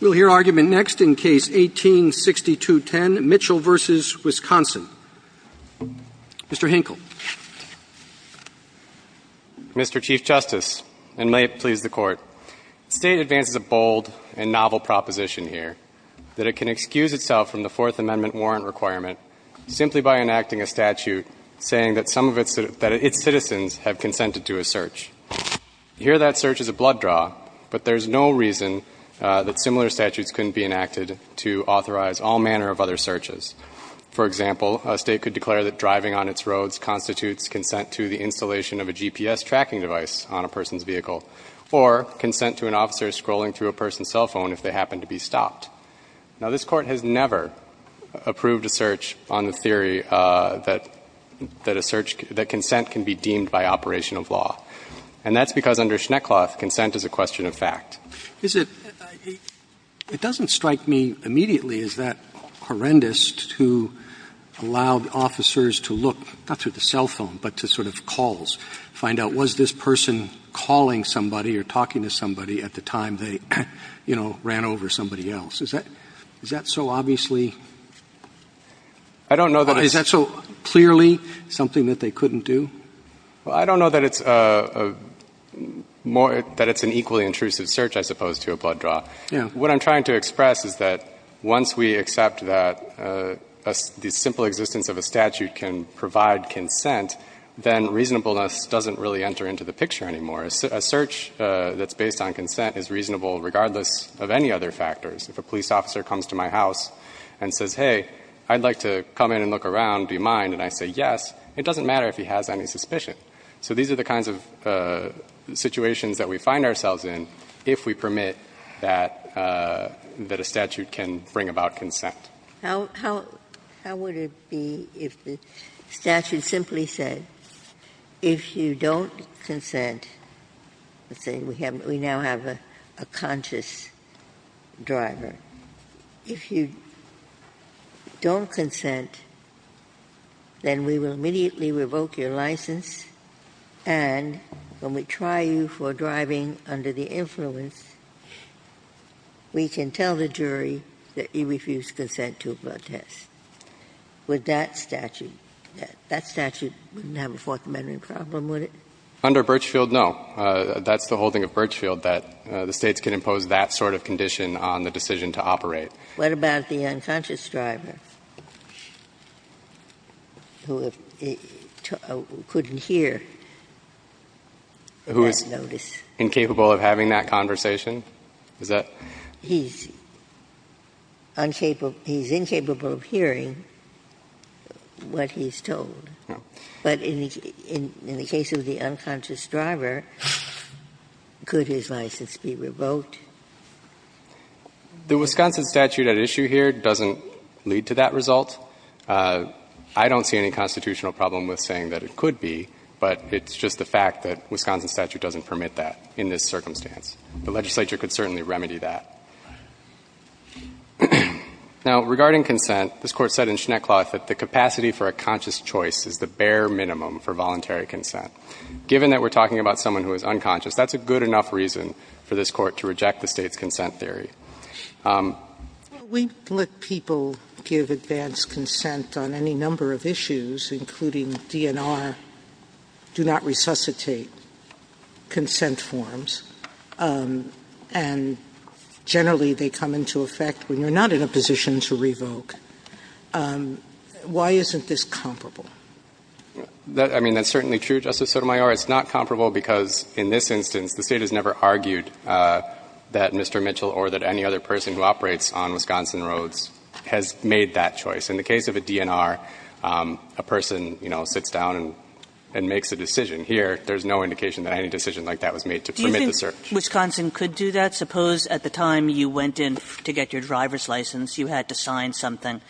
We'll hear argument next in Case 18-6210, Mitchell v. Wisconsin. Mr. Hinkle. Mr. Chief Justice, and may it please the Court, State advances a bold and novel proposition here that it can excuse itself from the Fourth Amendment warrant requirement simply by enacting a statute saying that some of its citizens have consented to a search. Here that search is a blood draw, but there's no reason that similar statutes couldn't be enacted to authorize all manner of other searches. For example, a State could declare that driving on its roads constitutes consent to the installation of a GPS tracking device on a person's vehicle, or consent to an officer scrolling through a person's cell phone if they happen to be stopped. Now, this Court has never approved a search on the theory that a search, that consent can be deemed by operation of law. And that's because under Schneckloth, consent is a question of fact. Roberts. It doesn't strike me immediately as that horrendous to allow officers to look, not through the cell phone, but to sort of calls, find out was this person calling somebody or talking to somebody at the time they, you know, ran over somebody else. Is that, is that so obviously? I don't know that it's... Is that so clearly something that they couldn't do? Well, I don't know that it's a more, that it's an equally intrusive search, I suppose, to a blood draw. Yeah. What I'm trying to express is that once we accept that the simple existence of a statute if a police officer comes to my house and says, hey, I'd like to come in and look around, do you mind? And I say, yes. It doesn't matter if he has any suspicion. So these are the kinds of situations that we find ourselves in if we permit that a statute can bring about consent. How would it be if the statute simply said, if you don't consent, let's say we now have a conscious driver. If you don't consent, then we will immediately revoke your license, and when we try you for driving under the influence, we can tell the jury that you refuse consent to a blood test. Would that statute, that statute wouldn't have a Fourth Amendment problem, would it? Under Birchfield, no. That's the holding of Birchfield, that the States can impose that sort of condition on the decision to operate. What about the unconscious driver who couldn't hear that notice? Who is incapable of having that conversation? Is that? He's incapable of hearing what he's told. No. But in the case of the unconscious driver, could his license be revoked? The Wisconsin statute at issue here doesn't lead to that result. I don't see any constitutional problem with saying that it could be, but it's just the fact that Wisconsin statute doesn't permit that in this circumstance. The legislature could certainly remedy that. Now, regarding consent, this Court said in Schneckloth that the capacity for a conscious choice is the bare minimum for voluntary consent. Given that we're talking about someone who is unconscious, that's a good enough reason for this Court to reject the State's consent theory. Sotomayor We let people give advanced consent on any number of issues, including DNR, do not resuscitate consent forms, and generally they come into effect when you're not in a position to revoke. Why isn't this comparable? I mean, that's certainly true, Justice Sotomayor. It's not comparable because in this instance, the State has never argued that Mr. Mitchell or that any other person who operates on Wisconsin roads has made that choice. In the case of a DNR, a person, you know, sits down and makes a decision. Here, there's no indication that any decision like that was made to permit the search. Do you think Wisconsin could do that? I suppose at the time you went in to get your driver's license, you had to sign something,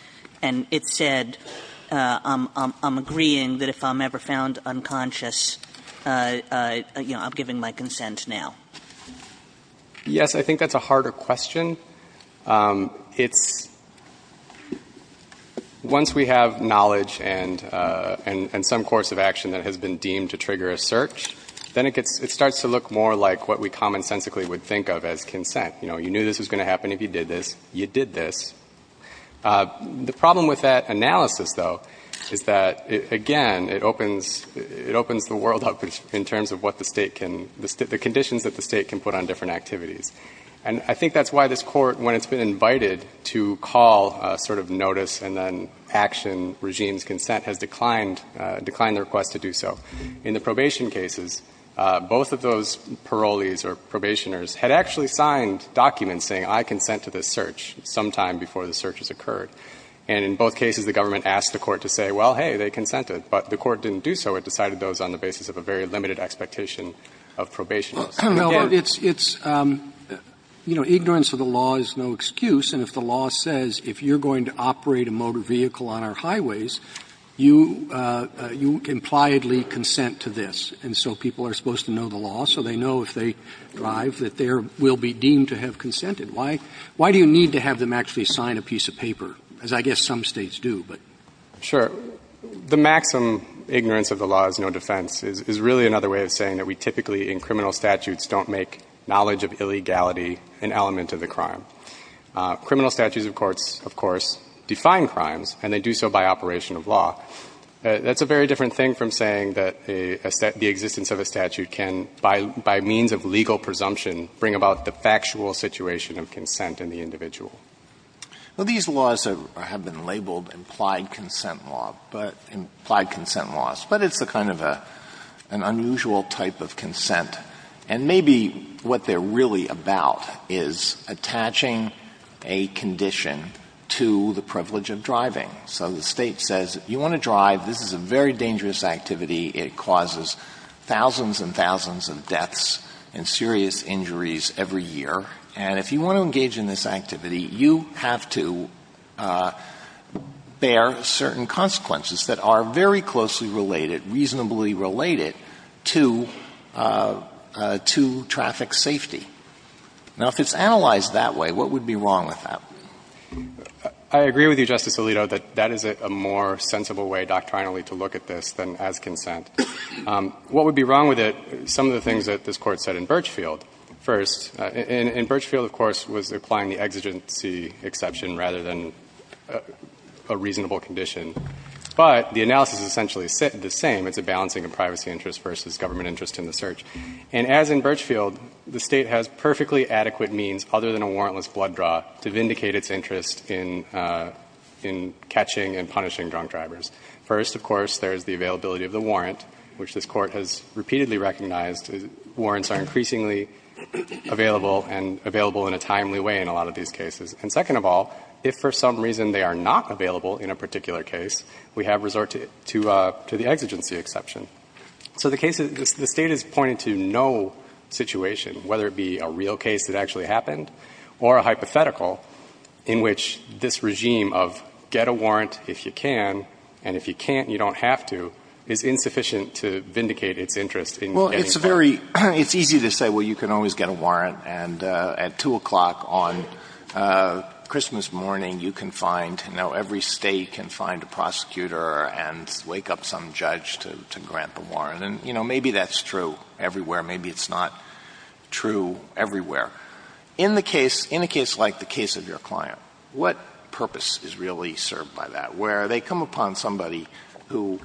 and it said, I'm agreeing that if I'm ever found unconscious, you know, I'm giving my consent now. Yes. I think that's a harder question. It's, once we have knowledge and some course of action that has been deemed to trigger a search, then it starts to look more like what we commonsensically would think of as consent. You know, you knew this was going to happen if you did this. You did this. The problem with that analysis, though, is that, again, it opens the world up in terms of what the State can, the conditions that the State can put on different activities. And I think that's why this Court, when it's been invited to call sort of notice and then action regime's consent, has declined, declined the request to do so. In the probation cases, both of those parolees or probationers had actually signed documents saying, I consent to this search, sometime before the search has occurred. And in both cases, the government asked the Court to say, well, hey, they consented. But the Court didn't do so. It decided those on the basis of a very limited expectation of probation. Again, it's, you know, ignorance of the law is no excuse. And if the law says, if you're going to operate a motor vehicle on our highways, you, you impliedly consent to this. And so people are supposed to know the law, so they know if they drive that they are, will be deemed to have consented. Why, why do you need to have them actually sign a piece of paper, as I guess some States do, but? Sure. The maximum ignorance of the law is no defense is really another way of saying that we typically, in criminal statutes, don't make knowledge of illegality an element of the crime. Criminal statutes, of course, of course, define crimes, and they do so by operation of law. That's a very different thing from saying that a, the existence of a statute can, by, by means of legal presumption, bring about the factual situation of consent in the individual. Well, these laws have been labeled implied consent law, but, implied consent laws. And maybe what they're really about is attaching a condition to the privilege of driving. So the State says, you want to drive. This is a very dangerous activity. It causes thousands and thousands of deaths and serious injuries every year. And if you want to engage in this activity, you have to bear certain consequences that are very closely related, reasonably related to, to traffic safety. Now, if it's analyzed that way, what would be wrong with that? I agree with you, Justice Alito, that that is a more sensible way doctrinally to look at this than as consent. What would be wrong with it, some of the things that this Court said in Birchfield first, and Birchfield, of course, was applying the exigency exception rather than a reasonable condition. But the analysis is essentially the same. It's a balancing of privacy interest versus government interest in the search. And as in Birchfield, the State has perfectly adequate means, other than a warrantless blood draw, to vindicate its interest in, in catching and punishing drunk drivers. First, of course, there is the availability of the warrant, which this Court has repeatedly recognized. Warrants are increasingly available and available in a timely way in a lot of these cases. And second of all, if for some reason they are not available in a particular case, we have resort to, to the exigency exception. So the case is, the State has pointed to no situation, whether it be a real case that actually happened or a hypothetical, in which this regime of get a warrant if you can, and if you can't, you don't have to, is insufficient to vindicate its interest in getting a warrant. Well, it's very, it's easy to say, well, you can always get a warrant, and at 2 o'clock on Christmas morning, you can find, you know, every State can find a prosecutor and wake up some judge to, to grant the warrant. And, you know, maybe that's true everywhere. Maybe it's not true everywhere. In the case, in a case like the case of your client, what purpose is really served by that, where they come upon somebody who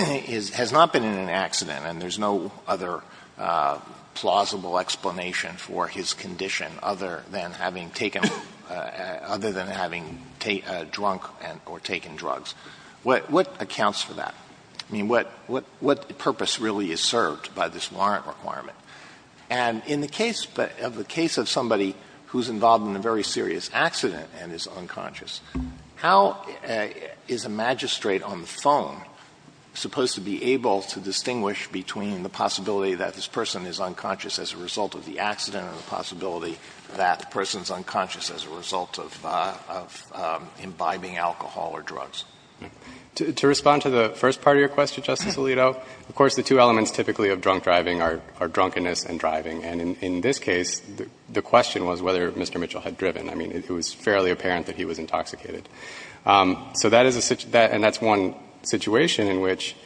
is, has not been in an accident, and there's no other plausible explanation for his condition other than having taken a, other than having drunk and, or taken drugs? What, what accounts for that? I mean, what, what, what purpose really is served by this warrant requirement? And in the case of, of the case of somebody who's involved in a very serious accident and is unconscious, how is a magistrate on the phone supposed to be able to distinguish between the possibility that this person is unconscious as a result of the accident or the possibility that the person's unconscious as a result of, of imbibing alcohol or drugs? To, to respond to the first part of your question, Justice Alito, of course, the two elements typically of drunk driving are, are drunkenness and driving. And in, in this case, the, the question was whether Mr. Mitchell had driven. I mean, it was fairly apparent that he was intoxicated. So that is a, that, and that's one situation in which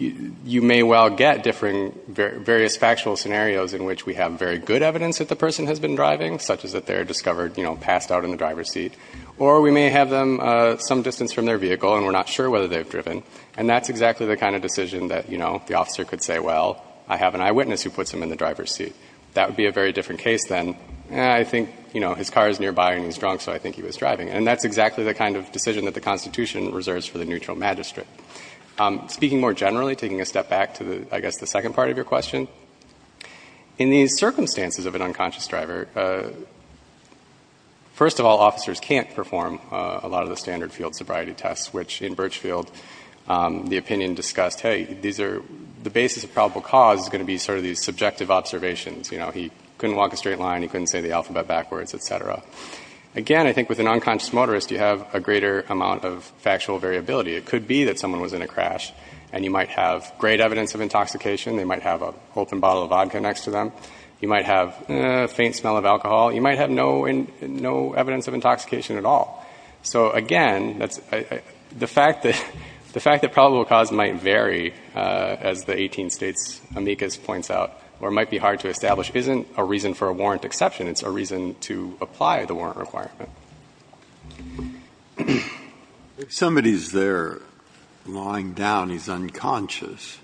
you may well get different, various factual scenarios in which we have very good evidence that the person has been driving, such as that they're discovered, you know, passed out in the driver's seat, or we may have them some distance from their vehicle and we're not sure whether they've driven. And that's exactly the kind of decision that, you know, the officer could say, well, I have an eyewitness who puts him in the driver's seat. That would be a very different case than, eh, I think, you know, his car is nearby and he's drunk, so I think he was driving. And that's exactly the kind of decision that the Constitution reserves for the neutral magistrate. Speaking more generally, taking a step back to the, I guess, the second part of your question, in these circumstances of an unconscious driver, first of all, officers can't perform a lot of the standard field sobriety tests, which in Birchfield, the opinion discussed, hey, these are, the basis of probable cause is going to be sort of these subjective observations. Again, I think with an unconscious motorist, you have a greater amount of factual variability. It could be that someone was in a crash and you might have great evidence of intoxication. They might have an open bottle of vodka next to them. You might have a faint smell of alcohol. You might have no evidence of intoxication at all. So, again, the fact that probable cause might vary, as the 18 states amicus points out, or might be hard to establish, isn't a reason for a warrant exception. It's a reason to apply the warrant requirement. If somebody's there lying down, he's unconscious,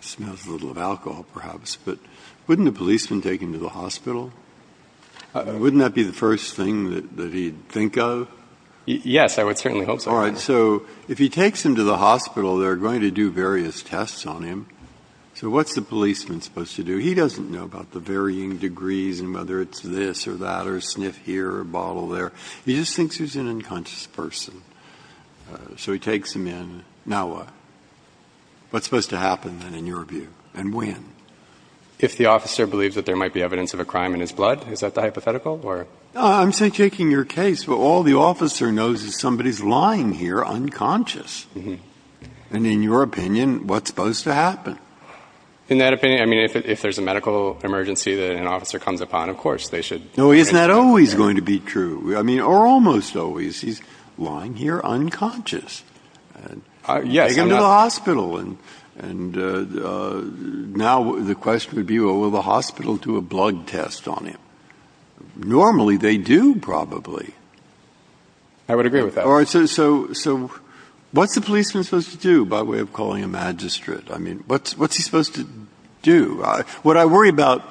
smells a little of alcohol perhaps, but wouldn't a policeman take him to the hospital? Wouldn't that be the first thing that he'd think of? Yes, I would certainly hope so. All right. So if he takes him to the hospital, they're going to do various tests on him. So what's the policeman supposed to do? He doesn't know about the varying degrees and whether it's this or that or a sniff here or a bottle there. He just thinks he's an unconscious person. So he takes him in. Now what? What's supposed to happen, then, in your view? And when? If the officer believes that there might be evidence of a crime in his blood, is that the hypothetical? No, I'm just taking your case. And in your opinion, what's supposed to happen? In that opinion, I mean, if there's a medical emergency that an officer comes upon, of course they should take him to the hospital. No, isn't that always going to be true? I mean, or almost always. He's lying here unconscious. Yes. Take him to the hospital. And now the question would be, well, will the hospital do a blood test on him? Normally they do, probably. I would agree with that. All right. So what's the policeman supposed to do by way of calling a magistrate? I mean, what's he supposed to do? What I worry about,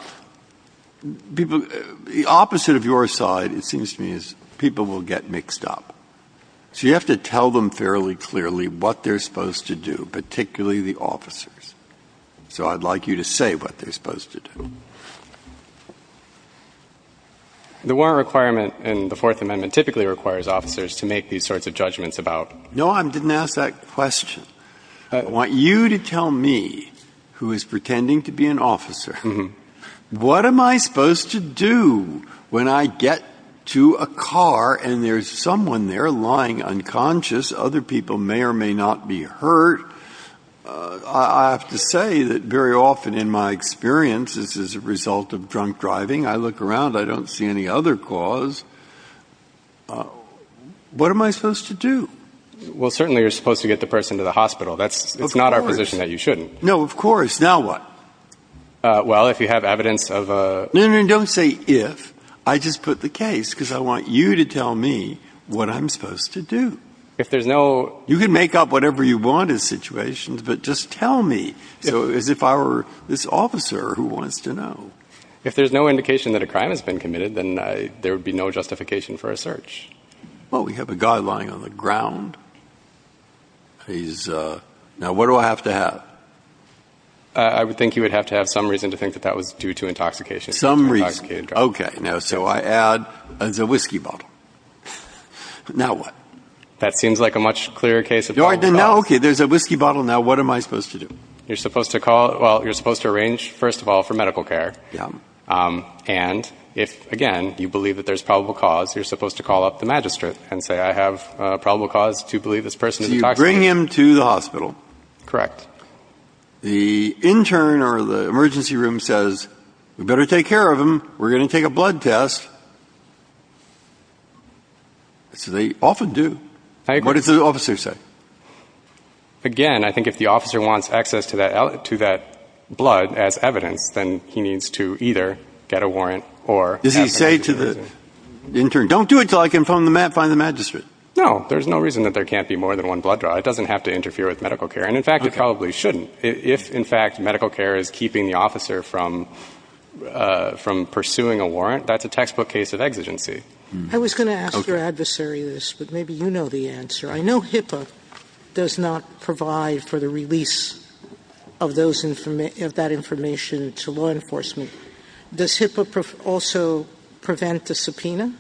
people — the opposite of your side, it seems to me, is people will get mixed up. So you have to tell them fairly clearly what they're supposed to do, particularly the officers. So I'd like you to say what they're supposed to do. The warrant requirement in the Fourth Amendment typically requires officers to make these sorts of judgments about — No, I didn't ask that question. I want you to tell me, who is pretending to be an officer, what am I supposed to do when I get to a car and there's someone there lying unconscious? Other people may or may not be hurt. I have to say that very often in my experience, this is a result of drunk driving. I look around. I don't see any other cause. What am I supposed to do? Well, certainly you're supposed to get the person to the hospital. Of course. It's not our position that you shouldn't. No, of course. Now what? Well, if you have evidence of a — No, no, no. Don't say if. I just put the case, because I want you to tell me what I'm supposed to do. If there's no — You can make up whatever you want as situations, but just tell me, as if I were this officer who wants to know. If there's no indication that a crime has been committed, then there would be no justification for a search. Well, we have a guy lying on the ground. He's — now, what do I have to have? I would think you would have to have some reason to think that that was due to intoxication. Some reason. It's intoxicated driving. Okay. Now, so I add, it's a whiskey bottle. Now what? That seems like a much clearer case of — No, I didn't. Now, okay, there's a whiskey bottle. Now, what am I supposed to do? You're supposed to call — well, you're supposed to arrange, first of all, for medical care. Yeah. And if, again, you believe that there's probable cause, you're supposed to call up the magistrate and say, I have probable cause to believe this person is intoxicated. So you bring him to the hospital. Correct. The intern or the emergency room says, we better take care of him. We're going to take a blood test. So they often do. I agree. What does the officer say? Again, I think if the officer wants access to that blood as evidence, then he needs to either get a warrant or — Does he say to the intern, don't do it until I can find the magistrate? No. There's no reason that there can't be more than one blood draw. It doesn't have to interfere with medical care. And, in fact, it probably shouldn't. If, in fact, medical care is keeping the officer from pursuing a warrant, that's a textbook case of exigency. I was going to ask your adversary this, but maybe you know the answer. I know HIPAA does not provide for the release of that information to law enforcement. Does HIPAA also prevent the subpoena?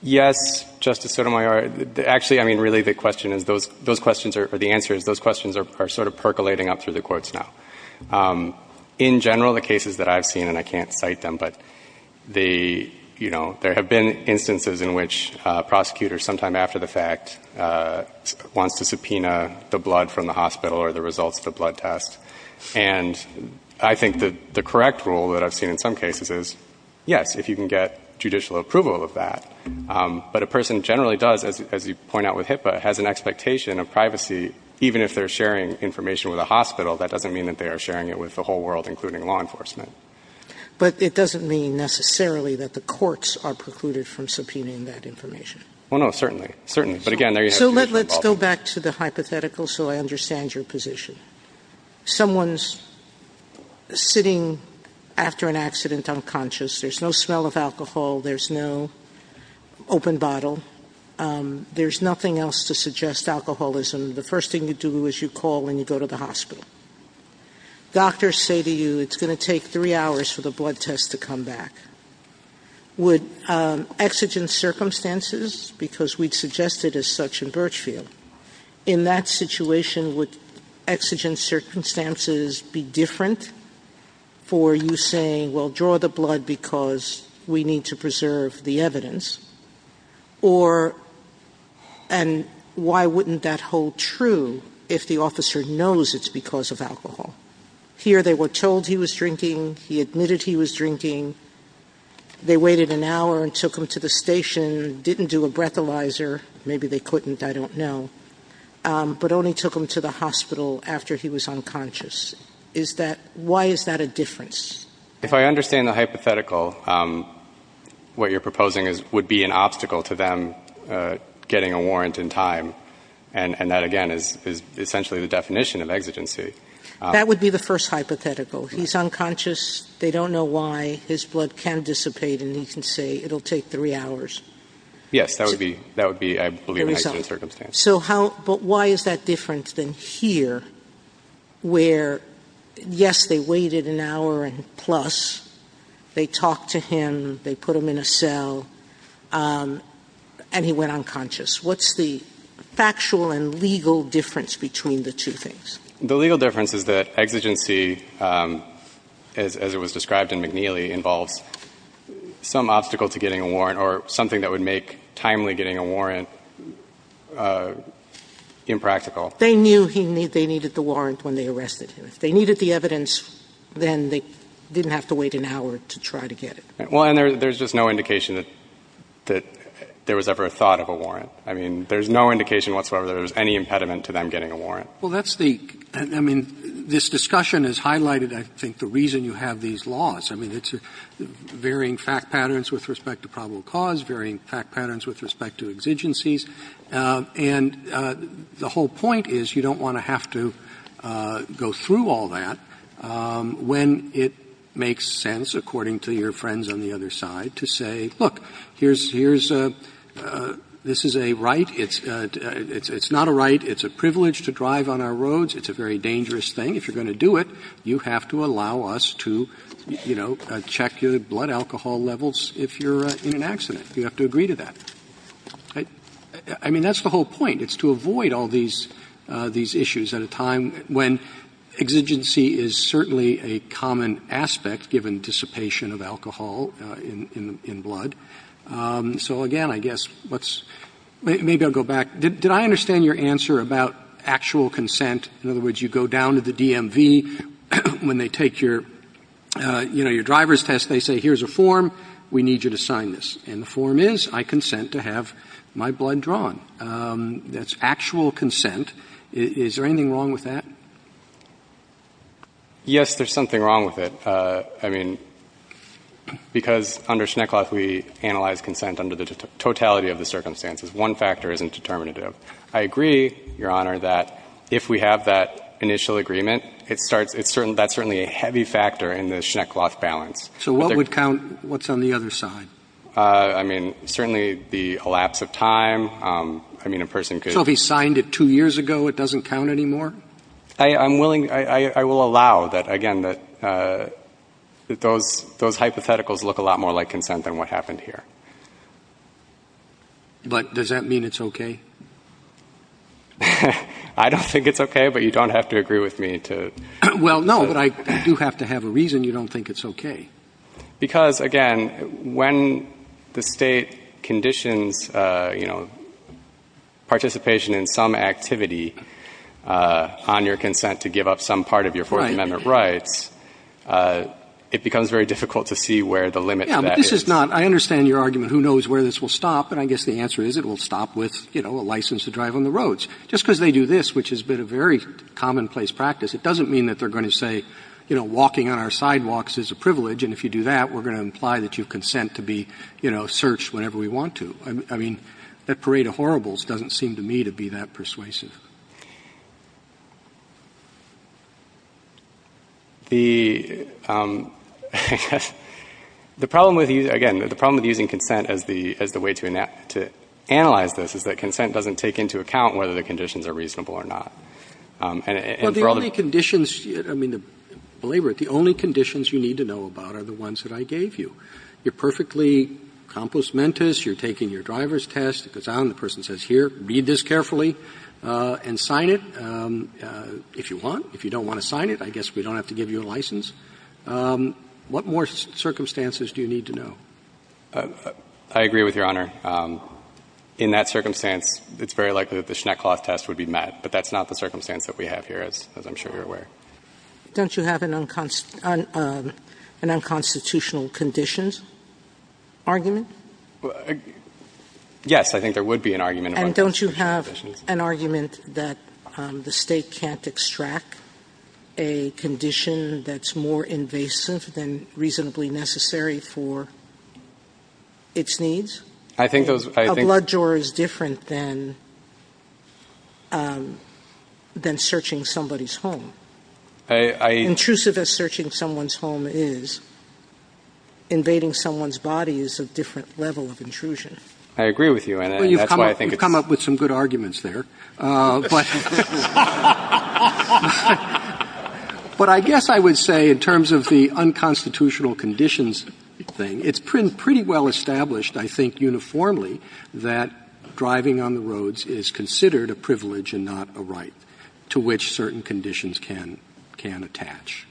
Yes, Justice Sotomayor. Actually, I mean, really, the question is — those questions are — or the answer is those questions are sort of percolating up through the courts now. In general, the cases that I've seen — and I can't cite them, but they — you know, there have been instances in which a prosecutor, sometime after the fact, wants to subpoena the blood from the hospital or the results of the blood test. And I think that the correct rule that I've seen in some cases is, yes, if you can get judicial approval of that. But a person generally does, as you point out with HIPAA, has an expectation of privacy. Even if they're sharing information with a hospital, that doesn't mean that they are sharing it with the whole world, including law enforcement. But it doesn't mean necessarily that the courts are precluded from subpoenaing that information. Well, no, certainly. Certainly. But again, there is — So let's go back to the hypothetical so I understand your position. Someone's sitting after an accident unconscious. There's no smell of alcohol. There's no open bottle. There's nothing else to suggest alcoholism. The first thing you do is you call and you go to the hospital. Doctors say to you, it's going to take three hours for the blood test to come back. Would exigent circumstances, because we'd suggested as such in Birchfield, in that situation, would exigent circumstances be different for you saying, well, draw the blood because we need to preserve the evidence? Or — and why wouldn't that hold true if the officer knows it's because of alcohol? Here they were told he was drinking. He admitted he was drinking. They waited an hour and took him to the station. Didn't do a breathalyzer. Maybe they couldn't. I don't know. But only took him to the hospital after he was unconscious. Is that — why is that a difference? If I understand the hypothetical, what you're proposing would be an obstacle to them getting a warrant in time. And that, again, is essentially the definition of exigency. That would be the first hypothetical. He's unconscious. They don't know why. His blood can dissipate. And he can say, it'll take three hours. Yes, that would be, I believe, an exigent circumstance. So how — but why is that different than here where, yes, they waited an hour and plus. They talked to him. They put him in a cell. And he went unconscious. What's the factual and legal difference between the two things? The legal difference is that exigency, as it was described in McNeely, involves some obstacle to getting a warrant or something that would make timely getting a warrant impractical. They knew they needed the warrant when they arrested him. If they needed the evidence, then they didn't have to wait an hour to try to get it. Well, and there's just no indication that there was ever a thought of a warrant. I mean, there's no indication whatsoever that there was any impediment to them getting a warrant. Well, that's the — I mean, this discussion has highlighted, I think, the reason you have these laws. I mean, it's varying fact patterns with respect to probable cause, varying fact patterns with respect to exigencies, and the whole point is you don't want to have to go through all that when it makes sense, according to your friends on the other side, to say, look, here's — here's a — this is a right. It's not a right. It's a privilege to drive on our roads. It's a very dangerous thing. If you're going to do it, you have to allow us to, you know, check your blood alcohol levels if you're in an accident. You have to agree to that. I mean, that's the whole point. It's to avoid all these — these issues at a time when exigency is certainly a common aspect given dissipation of alcohol in blood. So again, I guess, let's — maybe I'll go back. Did I understand your answer about actual consent? In other words, you go down to the DMV. When they take your, you know, your driver's test, they say, here's a form. We need you to sign this. And the form is, I consent to have my blood drawn. That's actual consent. Is there anything wrong with that? Yes, there's something wrong with it. I mean, because under Schneckloth, we analyze consent under the totality of the circumstances. One factor isn't determinative. I agree, Your Honor, that if we have that initial agreement, it starts — that's certainly a heavy factor in the Schneckloth balance. So what would count what's on the other side? I mean, certainly the elapse of time. I mean, a person could — So if he signed it two years ago, it doesn't count anymore? I'm willing — I will allow that, again, that those hypotheticals look a lot more like consent than what happened here. But does that mean it's okay? I don't think it's okay, but you don't have to agree with me to — Well, no, but I do have to have a reason you don't think it's okay. Because, again, when the State conditions, you know, participation in some activity on your consent to give up some part of your Fourth Amendment rights, it becomes very difficult to see where the limit to that is. Yeah, but this is not — I understand your argument, who knows where this will stop, but I guess the answer is it will stop with, you know, a license to drive on the roads. Just because they do this, which has been a very commonplace practice, it doesn't mean that they're going to say, you know, walking on our sidewalks is a privilege, and if you do that, we're going to imply that you consent to be, you know, searched whenever we want to. I mean, that parade of horribles doesn't seem to me to be that persuasive. The — the problem with — again, the problem with using consent as the way to analyze this is that consent doesn't take into account whether the conditions are reasonable or not. And for all the — Well, the only conditions — I mean, believe it or not, the only conditions you need to know about are the ones that I gave you. You're perfectly compus mentis. You're taking your driver's test. It goes out, and the person says, here, read this carefully. And sign it if you want. If you don't want to sign it, I guess we don't have to give you a license. What more circumstances do you need to know? I agree with Your Honor. In that circumstance, it's very likely that the Schnecklaus test would be met. But that's not the circumstance that we have here, as I'm sure you're aware. Don't you have an unconstitutional conditions argument? Yes. I think there would be an argument of unconstitutional conditions. But don't you have an argument that the State can't extract a condition that's more invasive than reasonably necessary for its needs? I think those — A blood draw is different than — than searching somebody's home. I — Intrusive as searching someone's home is, invading someone's body is a different level of intrusion. I agree with you, and that's why I think it's — You've come up with some good arguments there. But — But I guess I would say, in terms of the unconstitutional conditions thing, it's pretty well established, I think, uniformly, that driving on the roads is considered a privilege and not a right to which certain conditions can — can attach.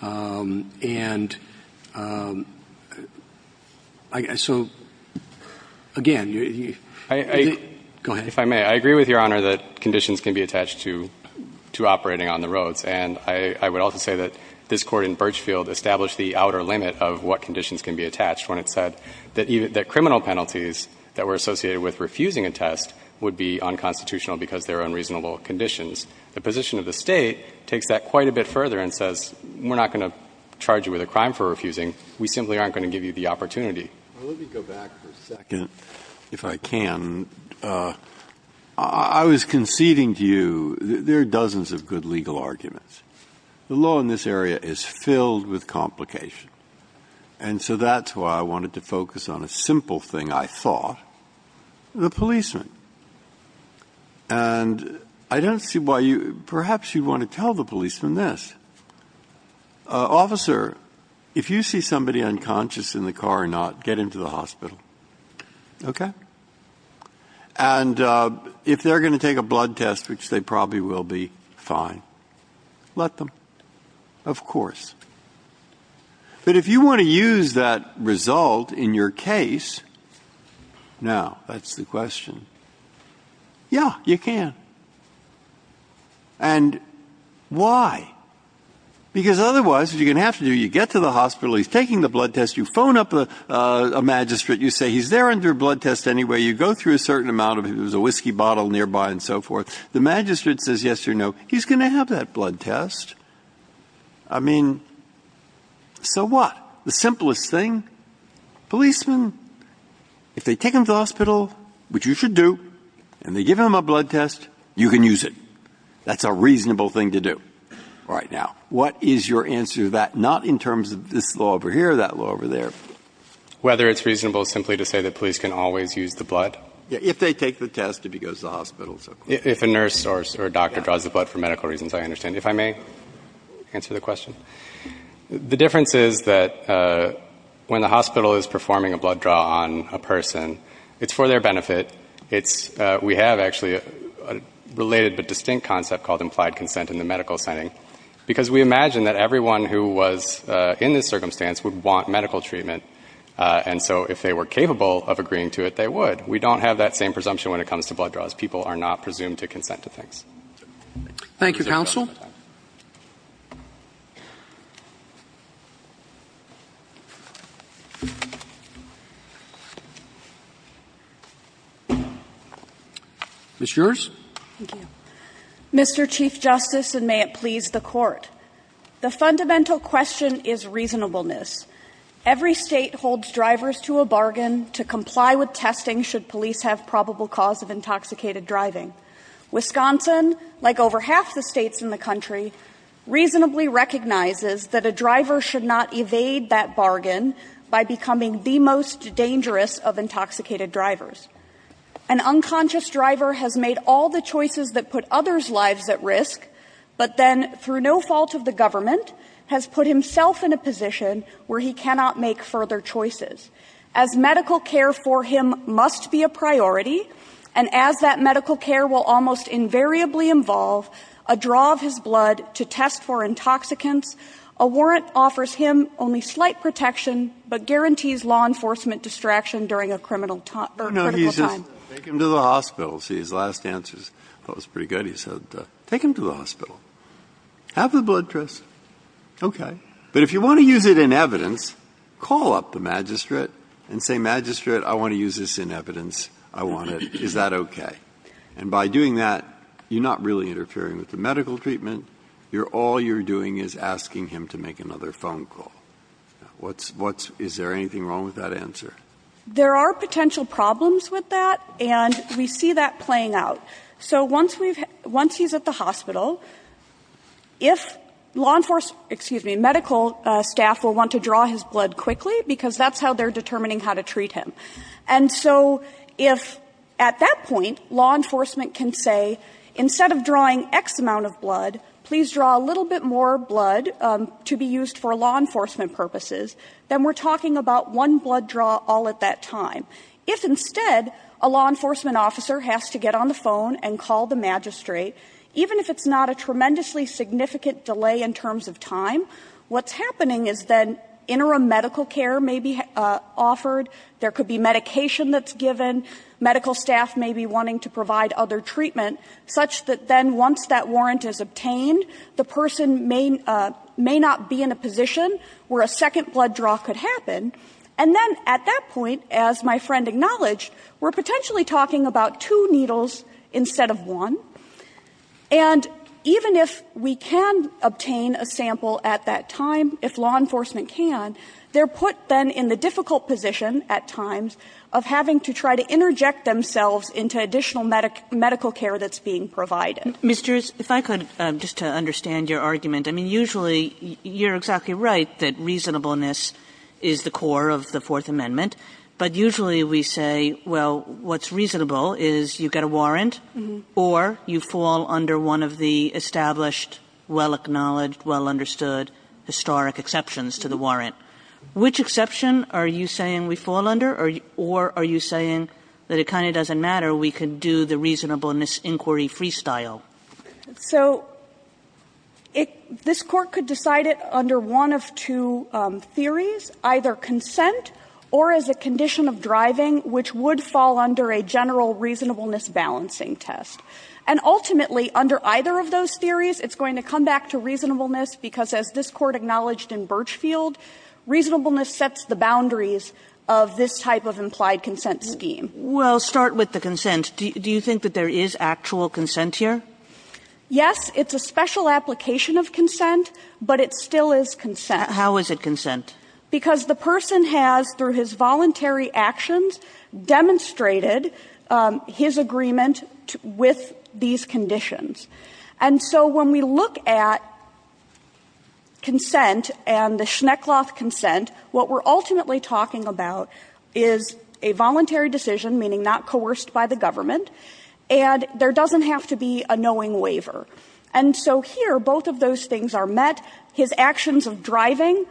And so, again, you — I — Go ahead. If I may, I agree with Your Honor that conditions can be attached to — to operating on the roads. And I would also say that this Court in Birchfield established the outer limit of what conditions can be attached when it said that criminal penalties that were associated with refusing a test would be unconstitutional because they're unreasonable conditions. The position of the State takes that quite a bit further and says, we're not going to charge you with a crime for refusing. We simply aren't going to give you the opportunity. Well, let me go back for a second, if I can. I was conceding to you — there are dozens of good legal arguments. The law in this area is filled with complication. And so that's why I wanted to focus on a simple thing I thought, the policeman. And I don't see why you — perhaps you'd want to tell the policeman this. Officer, if you see somebody unconscious in the car or not, get him to the hospital. Okay? And if they're going to take a blood test, which they probably will be, fine. Let them. Of course. But if you want to use that result in your case — now, that's the question. Yeah, you can. And why? Because otherwise, what you're going to have to do, you get to the hospital, he's taking the blood test, you phone up a magistrate, you say he's there under a blood test anyway. You go through a certain amount of — there's a whiskey bottle nearby and so forth. The magistrate says yes or no. He's going to have that blood test. I mean, so what? The simplest thing? Policeman, if they take him to the hospital, which you should do, and they give him a blood test, you can use it. That's a reasonable thing to do. All right, now, what is your answer to that? Not in terms of this law over here, that law over there. Whether it's reasonable simply to say that police can always use the blood. Yeah, if they take the test, if he goes to the hospital. If a nurse or a doctor draws the blood for medical reasons, I understand. If I may answer the question. The difference is that when the hospital is performing a blood draw on a person, it's for their benefit. It's — we have actually a related but distinct concept called implied consent in the medical setting. Because we imagine that everyone who was in this circumstance would want medical treatment. And so if they were capable of agreeing to it, they would. We don't have that same presumption when it comes to blood draws. People are not presumed to consent to things. Thank you, counsel. Ms. Scherz? Thank you. Mr. Chief Justice, and may it please the Court, the fundamental question is reasonableness. Every state holds drivers to a bargain to comply with testing should police have probable cause of intoxicated driving. Wisconsin, like over half the states in the country, reasonably recognizes that a driver should not evade that bargain by becoming the most dangerous of intoxicated drivers. An unconscious driver has made all the choices that put others' lives at risk, but then, through no fault of the government, has put himself in a position where he cannot make further choices. As medical care for him must be a priority, and as that medical care will almost invariably involve a draw of his blood to test for intoxicants, a warrant offers him only slight protection but guarantees law enforcement distraction during a criminal time or critical time. No, no, he's just, take him to the hospital. See, his last answer, I thought, was pretty good. He said, take him to the hospital. Have the blood test. Okay. But if you want to use it in evidence, call up the magistrate and say, Magistrate, I want to use this in evidence. I want to, is that okay? And by doing that, you're not really interfering with the medical treatment. You're, all you're doing is asking him to make another phone call. What's, what's, is there anything wrong with that answer? There are potential problems with that, and we see that playing out. So once we've, once he's at the hospital, if law enforcement, excuse me, medical staff will want to draw his blood quickly, because that's how they're determining how to treat him. And so if, at that point, law enforcement can say, instead of drawing X amount of blood, please draw a little bit more blood to be used for law enforcement purposes, then we're talking about one blood draw all at that time. If, instead, a law enforcement officer has to get on the phone and call the magistrate, even if it's not a tremendously significant delay in terms of time, what's happening is then interim medical care may be offered. There could be medication that's given. Medical staff may be wanting to provide other treatment, such that then once that warrant is obtained, the person may, may not be in a position where a second blood draw could happen. And then, at that point, as my friend acknowledged, we're potentially talking about two needles instead of one. And even if we can obtain a sample at that time, if law enforcement can, they're put, then, in the difficult position at times of having to try to interject themselves into additional medical care that's being provided. Kagan, if I could, just to understand your argument. I mean, usually, you're exactly right that reasonableness is the core of the Fourth Amendment, but usually we say, well, what's reasonable is you get a warrant or you fall under one of the established, well-acknowledged, well-understood historic exceptions to the warrant. Which exception are you saying we fall under, or are you saying that it kind of doesn't matter, we can do the reasonableness inquiry freestyle? So this Court could decide it under one of two theories, either consent or as a condition of driving, which would fall under a general reasonableness balancing test. And ultimately, under either of those theories, it's going to come back to reasonableness, because as this Court acknowledged in Birchfield, reasonableness sets the boundaries of this type of implied consent scheme. Kagan, well, start with the consent. Do you think that there is actual consent here? Yes, it's a special application of consent, but it still is consent. How is it consent? Because the person has, through his voluntary actions, demonstrated his agreement with these conditions. And so when we look at consent and the Schneckloth consent, what we're ultimately talking about is a voluntary decision, meaning not coerced by the government, and there doesn't have to be a knowing waiver. And so here, both of those things are met. His actions of driving,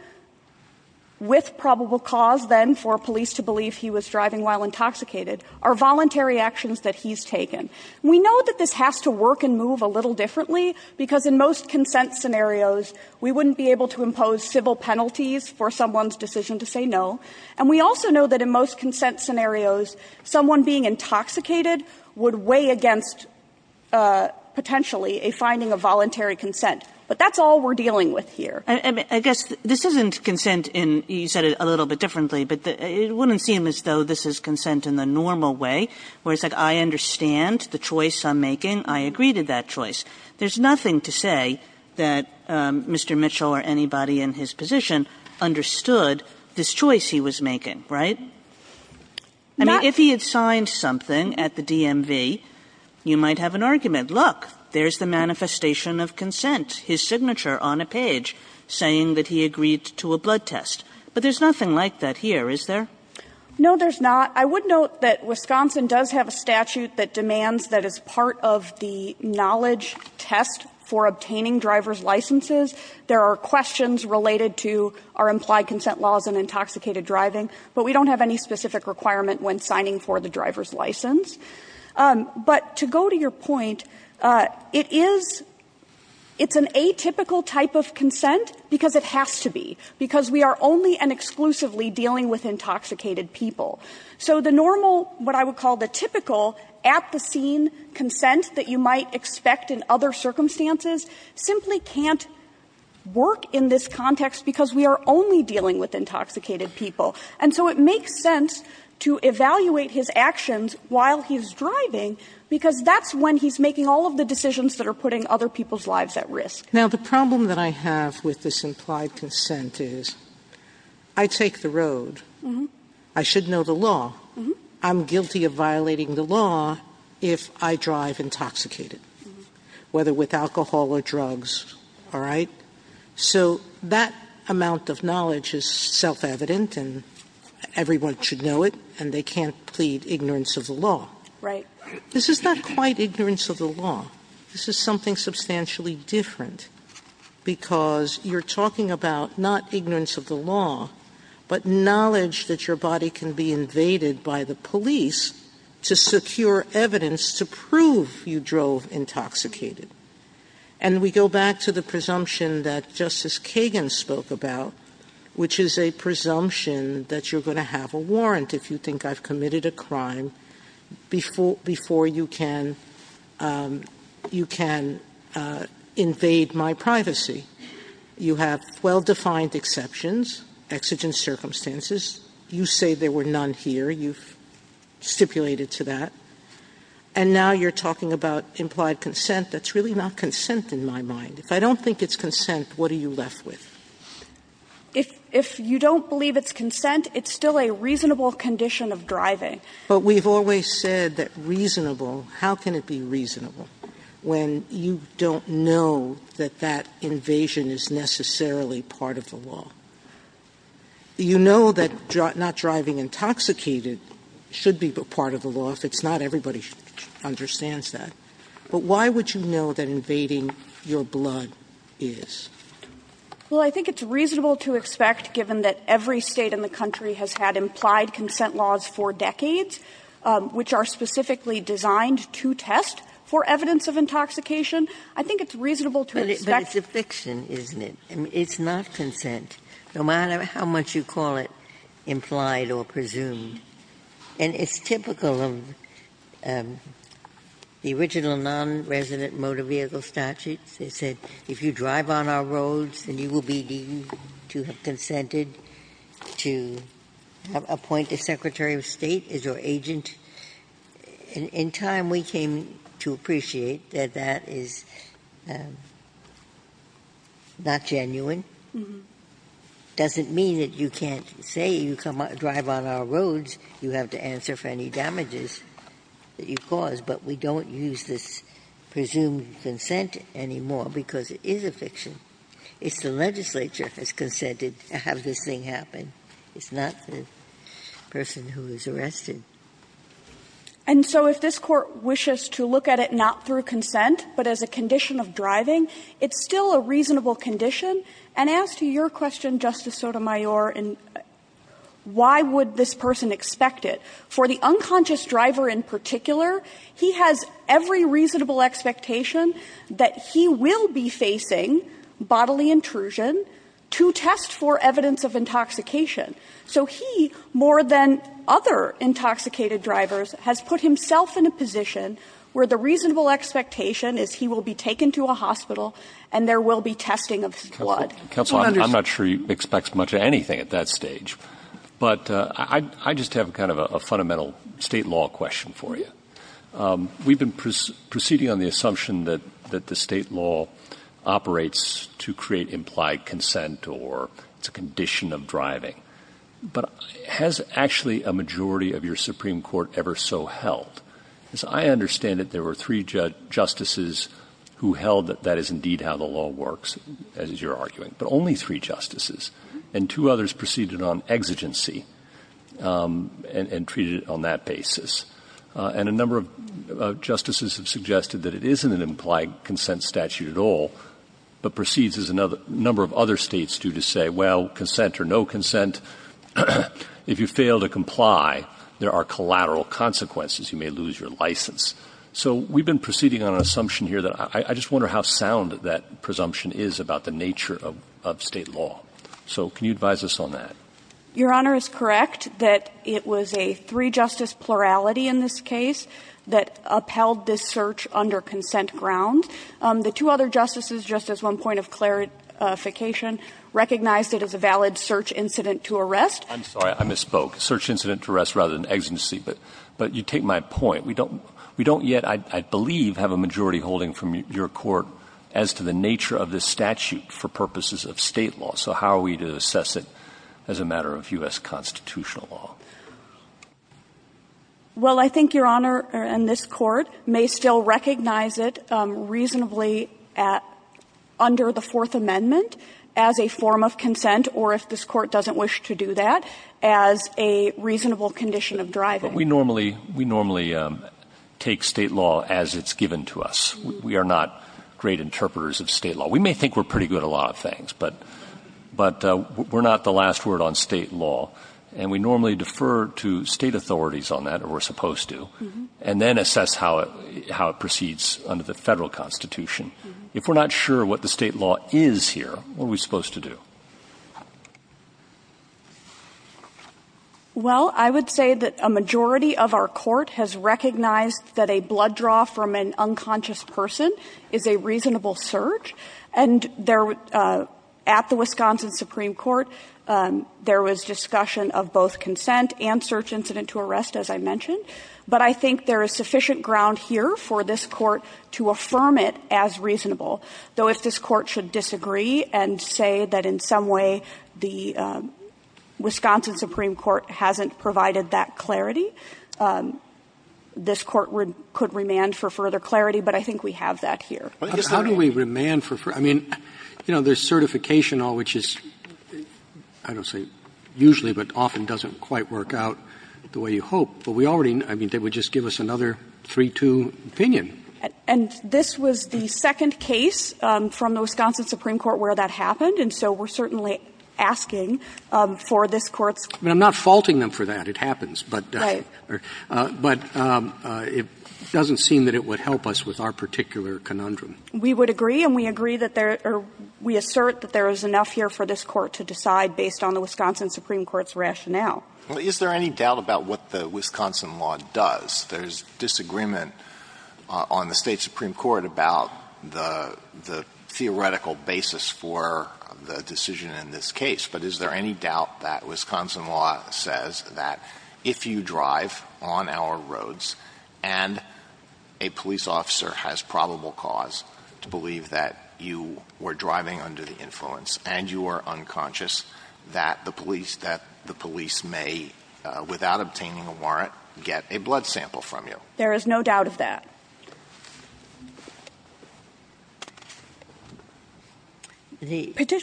with probable cause then for police to believe he was driving while intoxicated, are voluntary actions that he's taken. We know that this has to work and move a little differently, because in most consent scenarios, we wouldn't be able to impose civil penalties for someone's decision to say no. And we also know that in most consent scenarios, someone being intoxicated would weigh against, potentially, a finding of voluntary consent. But that's all we're dealing with here. I guess this isn't consent in you said it a little bit differently, but it wouldn't seem as though this is consent in the normal way, where it's like I understand the choice I'm making, I agree to that choice. There's nothing to say that Mr. Mitchell or anybody in his position understood this choice he was making, right? I mean, if he had signed something at the DMV, you might have an argument. Look, there's the manifestation of consent, his signature on a page saying that he agreed to a blood test. But there's nothing like that here, is there? No, there's not. I would note that Wisconsin does have a statute that demands that as part of the knowledge test for obtaining driver's licenses, there are questions related to our applied consent laws in intoxicated driving, but we don't have any specific requirement when signing for the driver's license. But to go to your point, it is, it's an atypical type of consent because it has to be, because we are only and exclusively dealing with intoxicated people. So the normal, what I would call the typical, at the scene consent that you might expect in other circumstances, simply can't work in this context because we are only dealing with intoxicated people. And so it makes sense to evaluate his actions while he's driving because that's when he's making all of the decisions that are putting other people's lives at risk. Now, the problem that I have with this implied consent is I take the road. I should know the law. I'm guilty of violating the law if I drive intoxicated, whether with alcohol or drugs. All right? So that amount of knowledge is self-evident and everyone should know it and they can't plead ignorance of the law. Right. This is not quite ignorance of the law. This is something substantially different because you're talking about not ignorance of the law, but knowledge that your body can be invaded by the police to secure evidence to prove you drove intoxicated. And we go back to the presumption that Justice Kagan spoke about, which is a presumption that you're going to have a warrant if you think I've committed a crime before you can invade my privacy. You have well-defined exceptions, exigent circumstances. You say there were none here. You've stipulated to that. And now you're talking about implied consent. That's really not consent in my mind. If I don't think it's consent, what are you left with? If you don't believe it's consent, it's still a reasonable condition of driving. But we've always said that reasonable, how can it be reasonable when you don't know that that invasion is necessarily part of the law? You know that not driving intoxicated should be part of the law if it's not a crime and everybody understands that. But why would you know that invading your blood is? Well, I think it's reasonable to expect, given that every State in the country has had implied consent laws for decades, which are specifically designed to test for evidence of intoxication, I think it's reasonable to expect. But it's a fiction, isn't it? It's not consent, no matter how much you call it implied or presumed. And it's typical of the original non-resident motor vehicle statutes. They said, if you drive on our roads, then you will be deemed to have consented to appoint the Secretary of State as your agent. In time, we came to appreciate that that is not genuine. It doesn't mean that you can't say you drive on our roads, you have to answer for any damages that you've caused, but we don't use this presumed consent anymore, because it is a fiction. It's the legislature that's consented to have this thing happen. It's not the person who is arrested. And so if this Court wishes to look at it not through consent, but as a condition of driving, it's still a reasonable condition. And as to your question, Justice Sotomayor, why would this person expect it? For the unconscious driver in particular, he has every reasonable expectation that he will be facing bodily intrusion to test for evidence of intoxication. So he, more than other intoxicated drivers, has put himself in a position where the reasonable expectation is he will be taken to a hospital and there will be testing of blood. He'll understand- I'm not sure he expects much of anything at that stage. But I just have kind of a fundamental state law question for you. We've been proceeding on the assumption that the state law operates to create implied consent or it's a condition of driving. But has actually a majority of your Supreme Court ever so held? As I understand it, there were three justices who held that that is indeed how the law works, as you're arguing. But only three justices. And two others proceeded on exigency and treated it on that basis. And a number of justices have suggested that it isn't an implied consent statute at all, but proceeds as a number of other states do to say, well, consent or no consent. If you fail to comply, there are collateral consequences. You may lose your license. So we've been proceeding on an assumption here that I just wonder how sound that presumption is about the nature of state law. So can you advise us on that? Your Honor is correct that it was a three-justice plurality in this case that upheld this search under consent grounds. The two other justices, just as one point of clarification, recognized it as a valid search incident to arrest. I'm sorry, I misspoke. Search incident to arrest rather than exigency. But you take my point. We don't yet, I believe, have a majority holding from your court as to the nature of this statute for purposes of state law. So how are we to assess it as a matter of US constitutional law? Well, I think Your Honor and this Court may still recognize it reasonably under the Fourth Amendment as a form of consent, or if this Court doesn't wish to do that, as a reasonable condition of driving. But we normally take state law as it's given to us. We are not great interpreters of state law. We may think we're pretty good at a lot of things, but we're not the last word on state law, and we normally defer to state authorities on that, or we're supposed to, and then assess how it proceeds under the federal constitution. If we're not sure what the state law is here, what are we supposed to do? Well, I would say that a majority of our court has recognized that a blood draw from an unconscious person is a reasonable search. And at the Wisconsin Supreme Court, there was discussion of both consent and search incident to arrest, as I mentioned. But I think there is sufficient ground here for this Court to affirm it as reasonable. Though if this Court should disagree and say that in some way the Wisconsin Supreme Court hasn't provided that clarity, this Court would – could remand for further clarity, but I think we have that here. How do we remand for – I mean, you know, there's certification law, which is, I don't say usually, but often doesn't quite work out the way you hope. But we already – I mean, they would just give us another 3-2 opinion. And this was the second case from the Wisconsin Supreme Court where that happened, and so we're certainly asking for this Court's – I mean, I'm not faulting them for that. It happens. But it doesn't seem that it would help us with our particular conundrum. We would agree, and we agree that there – or we assert that there is enough here for this Court to decide based on the Wisconsin Supreme Court's rationale. Is there any doubt about what the Wisconsin law does? There's disagreement on the State Supreme Court about the – the theoretical basis for the decision in this case. But is there any doubt that Wisconsin law says that if you drive on our roads and a police officer has probable cause to believe that you were driving under the influence and you are unconscious, that the police – that the police may, without obtaining a warrant, get a blood sample from you? There is no doubt of that. The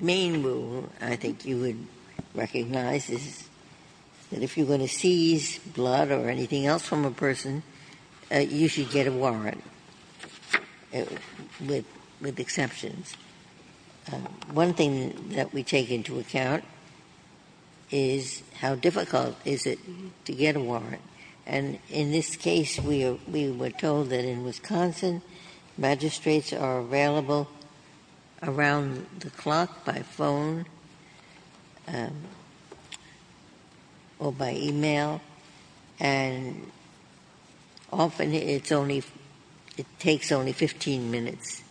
main rule, I think you would recognize, is that if you're going to seize blood or anything else from a person, you should get a warrant, with exceptions. One thing that we take into account is how difficult is it to get a warrant. And in this case, we were told that in Wisconsin, magistrates are available around the clock by phone or by e-mail, and often it's only – it takes only 15 minutes.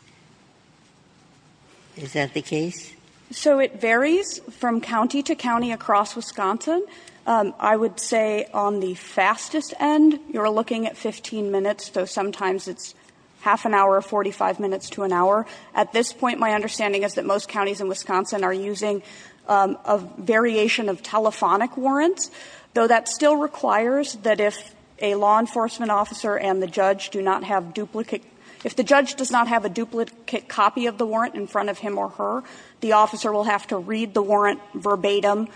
Is that the case? So it varies from county to county across Wisconsin. I would say on the fastest end, you're looking at 15 minutes, so sometimes it's half an hour, 45 minutes to an hour. At this point, my understanding is that most counties in Wisconsin are using a variation of telephonic warrants, though that still requires that if a law enforcement officer and the judge do not have duplicate – if the judge does not have a duplicate copy of the warrant in front of him or her, the officer will have to read the warrant verbatim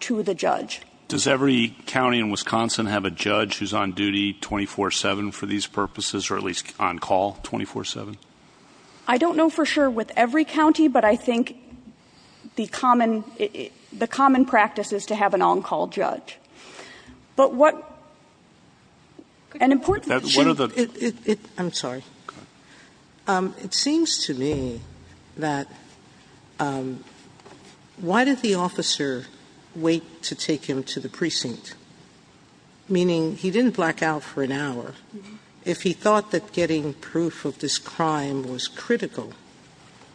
to the judge. Does every county in Wisconsin have a judge who's on duty 24-7 for these purposes, or at least on call 24-7? I don't know for sure with every county, but I think the common – the common practice is to have an on-call judge. But what – an important issue – I'm sorry. It seems to me that why did the officer wait to take him to the precinct? Meaning, he didn't black out for an hour. If he thought that getting proof of this crime was critical,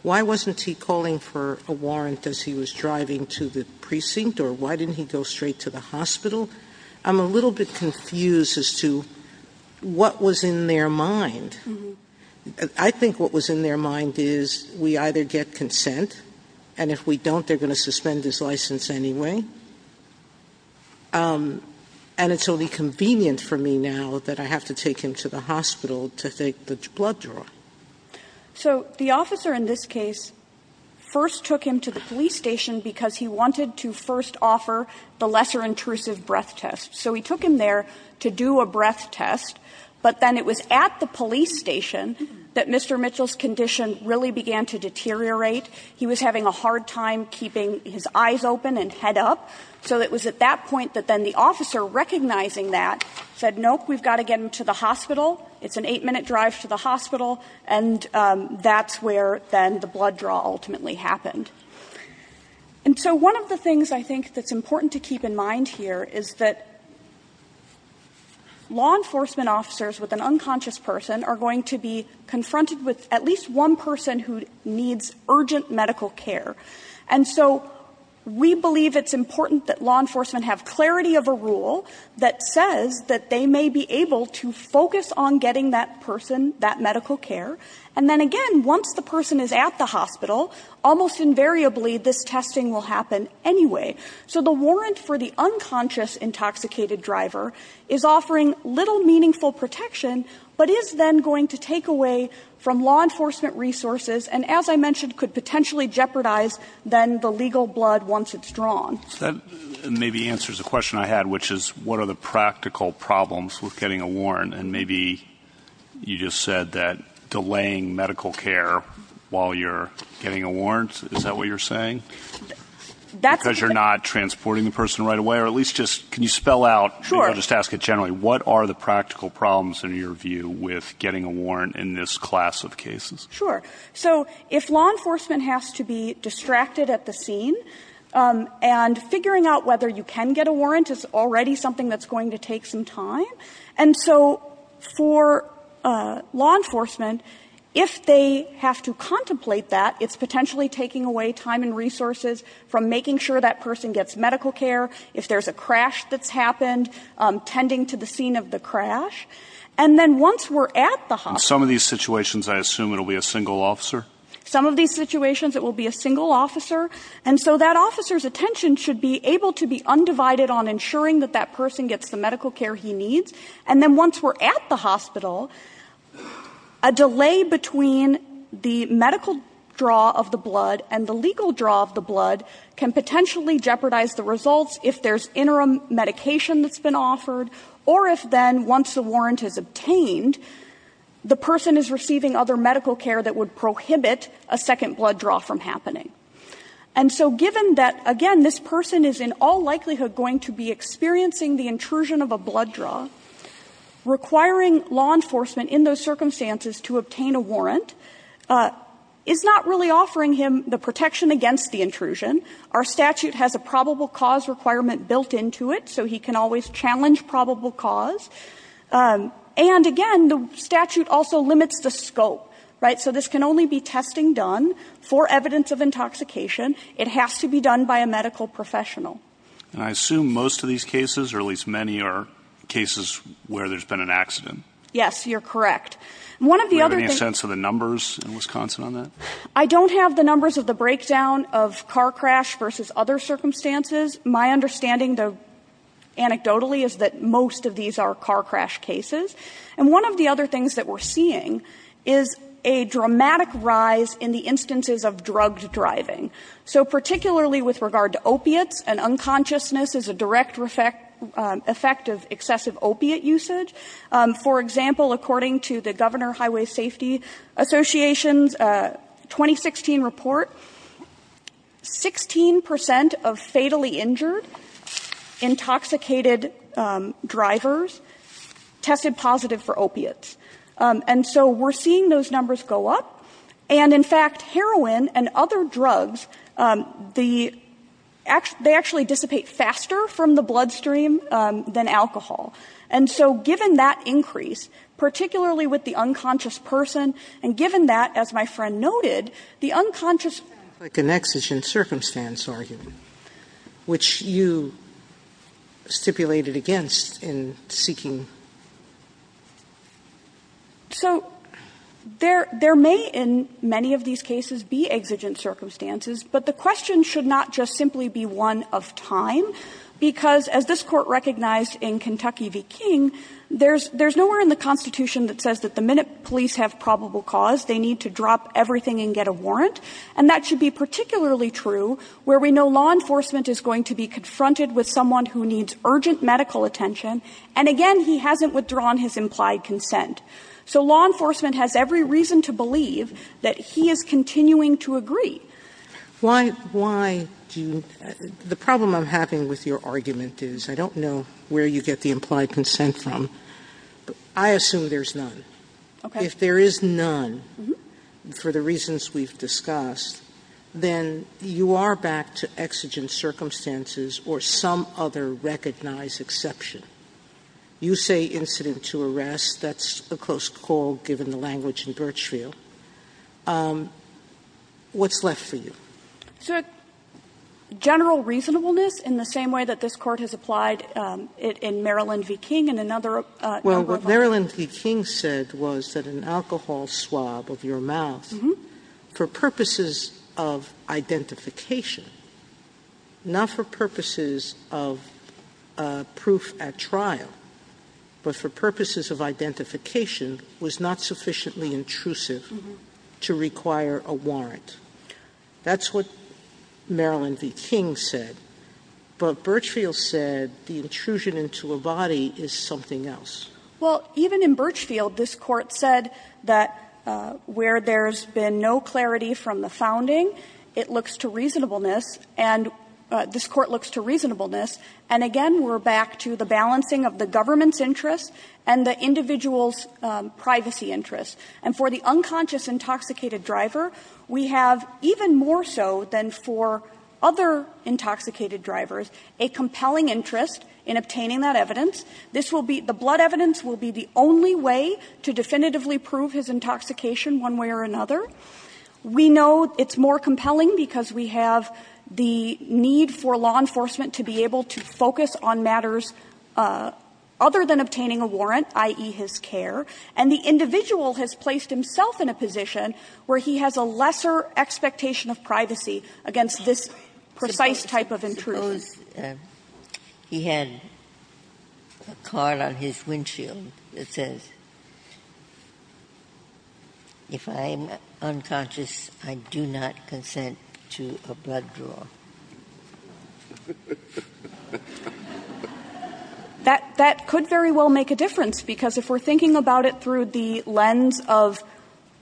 why wasn't he calling for a warrant as he was driving to the precinct, or why didn't he go straight to the hospital? I'm a little bit confused as to what was in their mind. I think what was in their mind is, we either get consent, and if we don't, they're going to suspend his license anyway, and it's only convenient for me now that I have to take him to the hospital to take the blood draw. So the officer in this case first took him to the police station because he wanted to first offer the lesser intrusive breath test. So he took him there to do a breath test, but then it was at the police station that Mr. Mitchell's condition really began to deteriorate. He was having a hard time keeping his eyes open and head up. So it was at that point that then the officer, recognizing that, said, nope, we've got to get him to the hospital. It's an 8-minute drive to the hospital. And that's where, then, the blood draw ultimately happened. And so one of the things, I think, that's important to keep in mind here is that law enforcement officers with an unconscious person are going to be confronted with at least one person who needs urgent medical care. And so we believe it's important that law enforcement have clarity of a rule that says that they may be able to focus on getting that person that medical care. And then, again, once the person is at the hospital, almost invariably, this testing will happen anyway. So the warrant for the unconscious intoxicated driver is offering little meaningful protection, but is then going to take away from law enforcement resources and, as I mentioned, could potentially jeopardize, then, the legal blood once it's drawn. So that maybe answers the question I had, which is what are the practical problems with getting a warrant? And maybe you just said that delaying medical care while you're getting a warrant, is that what you're saying? Because you're not transporting the person right away, or at least just, can you spell out, maybe I'll just ask it generally, what are the practical problems, in your view, with getting a warrant in this class of cases? Sure. So if law enforcement has to be distracted at the scene, and figuring out whether you can get a warrant is already something that's going to take some time, and so for law enforcement, if they have to contemplate that, it's potentially taking away time and resources from making sure that person gets medical care, if there's a crash that's happened, tending to the scene of the crash, and then once we're at the hospital. In some of these situations, I assume it'll be a single officer? Some of these situations, it will be a single officer, and so that officer's attention should be able to be undivided on ensuring that that person gets the care that she needs, and then once we're at the hospital, a delay between the medical draw of the blood and the legal draw of the blood can potentially jeopardize the results if there's interim medication that's been offered, or if then, once the warrant is obtained, the person is receiving other medical care that would prohibit a second blood draw from happening. And so given that, again, this person is in all likelihood going to be experiencing the intrusion of a blood draw, requiring law enforcement in those circumstances to obtain a warrant is not really offering him the protection against the intrusion. Our statute has a probable cause requirement built into it, so he can always challenge probable cause, and again, the statute also limits the scope, right? So this can only be testing done for evidence of intoxication. It has to be done by a medical professional. And I assume most of these cases, or at least many, are cases where there's been an accident. Yes, you're correct. One of the other things Do we have any sense of the numbers in Wisconsin on that? I don't have the numbers of the breakdown of car crash versus other circumstances. My understanding, anecdotally, is that most of these are car crash cases. And one of the other things that we're seeing is a dramatic rise in the instances of drugged driving. So particularly with regard to opiates, an unconsciousness is a direct effect of excessive opiate usage. For example, according to the Governor Highway Safety Association's 2016 report, 16 percent of fatally injured intoxicated drivers tested positive for opiates. And so we're seeing those numbers go up. And in fact, heroin and other drugs, they actually dissipate faster from the bloodstream than alcohol. And so given that increase, particularly with the unconscious person, and given that, as my friend noted, the unconscious It sounds like an exigent circumstance argument, which you stipulated against in seeking So there may, in many of these cases, be exigent circumstances. But the question should not just simply be one of time. Because as this Court recognized in Kentucky v. King, there's nowhere in the Constitution that says that the minute police have probable cause, they need to drop everything and get a warrant. And that should be particularly true where we know law enforcement is going to be confronted with someone who needs urgent medical attention. And again, he hasn't withdrawn his implied consent. So law enforcement has every reason to believe that he is continuing to agree. Sotomayor Why do you – the problem I'm having with your argument is I don't know where you get the implied consent from. I assume there's none. If there is none, for the reasons we've discussed, then you are back to exigent circumstances or some other recognized exception. You say incident to arrest. That's a close call, given the language in Birchfield. What's left for you? General reasonableness in the same way that this Court has applied it in Maryland v. King and another number of others. Well, what Maryland v. King said was that an alcohol swab of your mouth, for purposes of identification, not for purposes of proof at trial, but for purposes of identification, was not sufficiently intrusive to require a warrant. That's what Maryland v. King said. But Birchfield said the intrusion into a body is something else. Well, even in Birchfield, this Court said that where there's been no clarity from the founding, it looks to reasonableness, and this Court looks to reasonableness. And again, we're back to the balancing of the government's interests and the individual's privacy interests. And for the unconscious intoxicated driver, we have, even more so than for other intoxicated drivers, a compelling interest in obtaining that evidence. This will be the blood evidence will be the only way to definitively prove his intoxication one way or another. We know it's more compelling because we have the need for law enforcement to be able to focus on matters other than obtaining a warrant, i.e., his care. And the individual has placed himself in a position where he has a lesser expectation of privacy against this precise type of intrusion. He had a card on his windshield that says, if I'm unconscious, I do not consent to a blood draw. That could very well make a difference, because if we're thinking about it through the lens of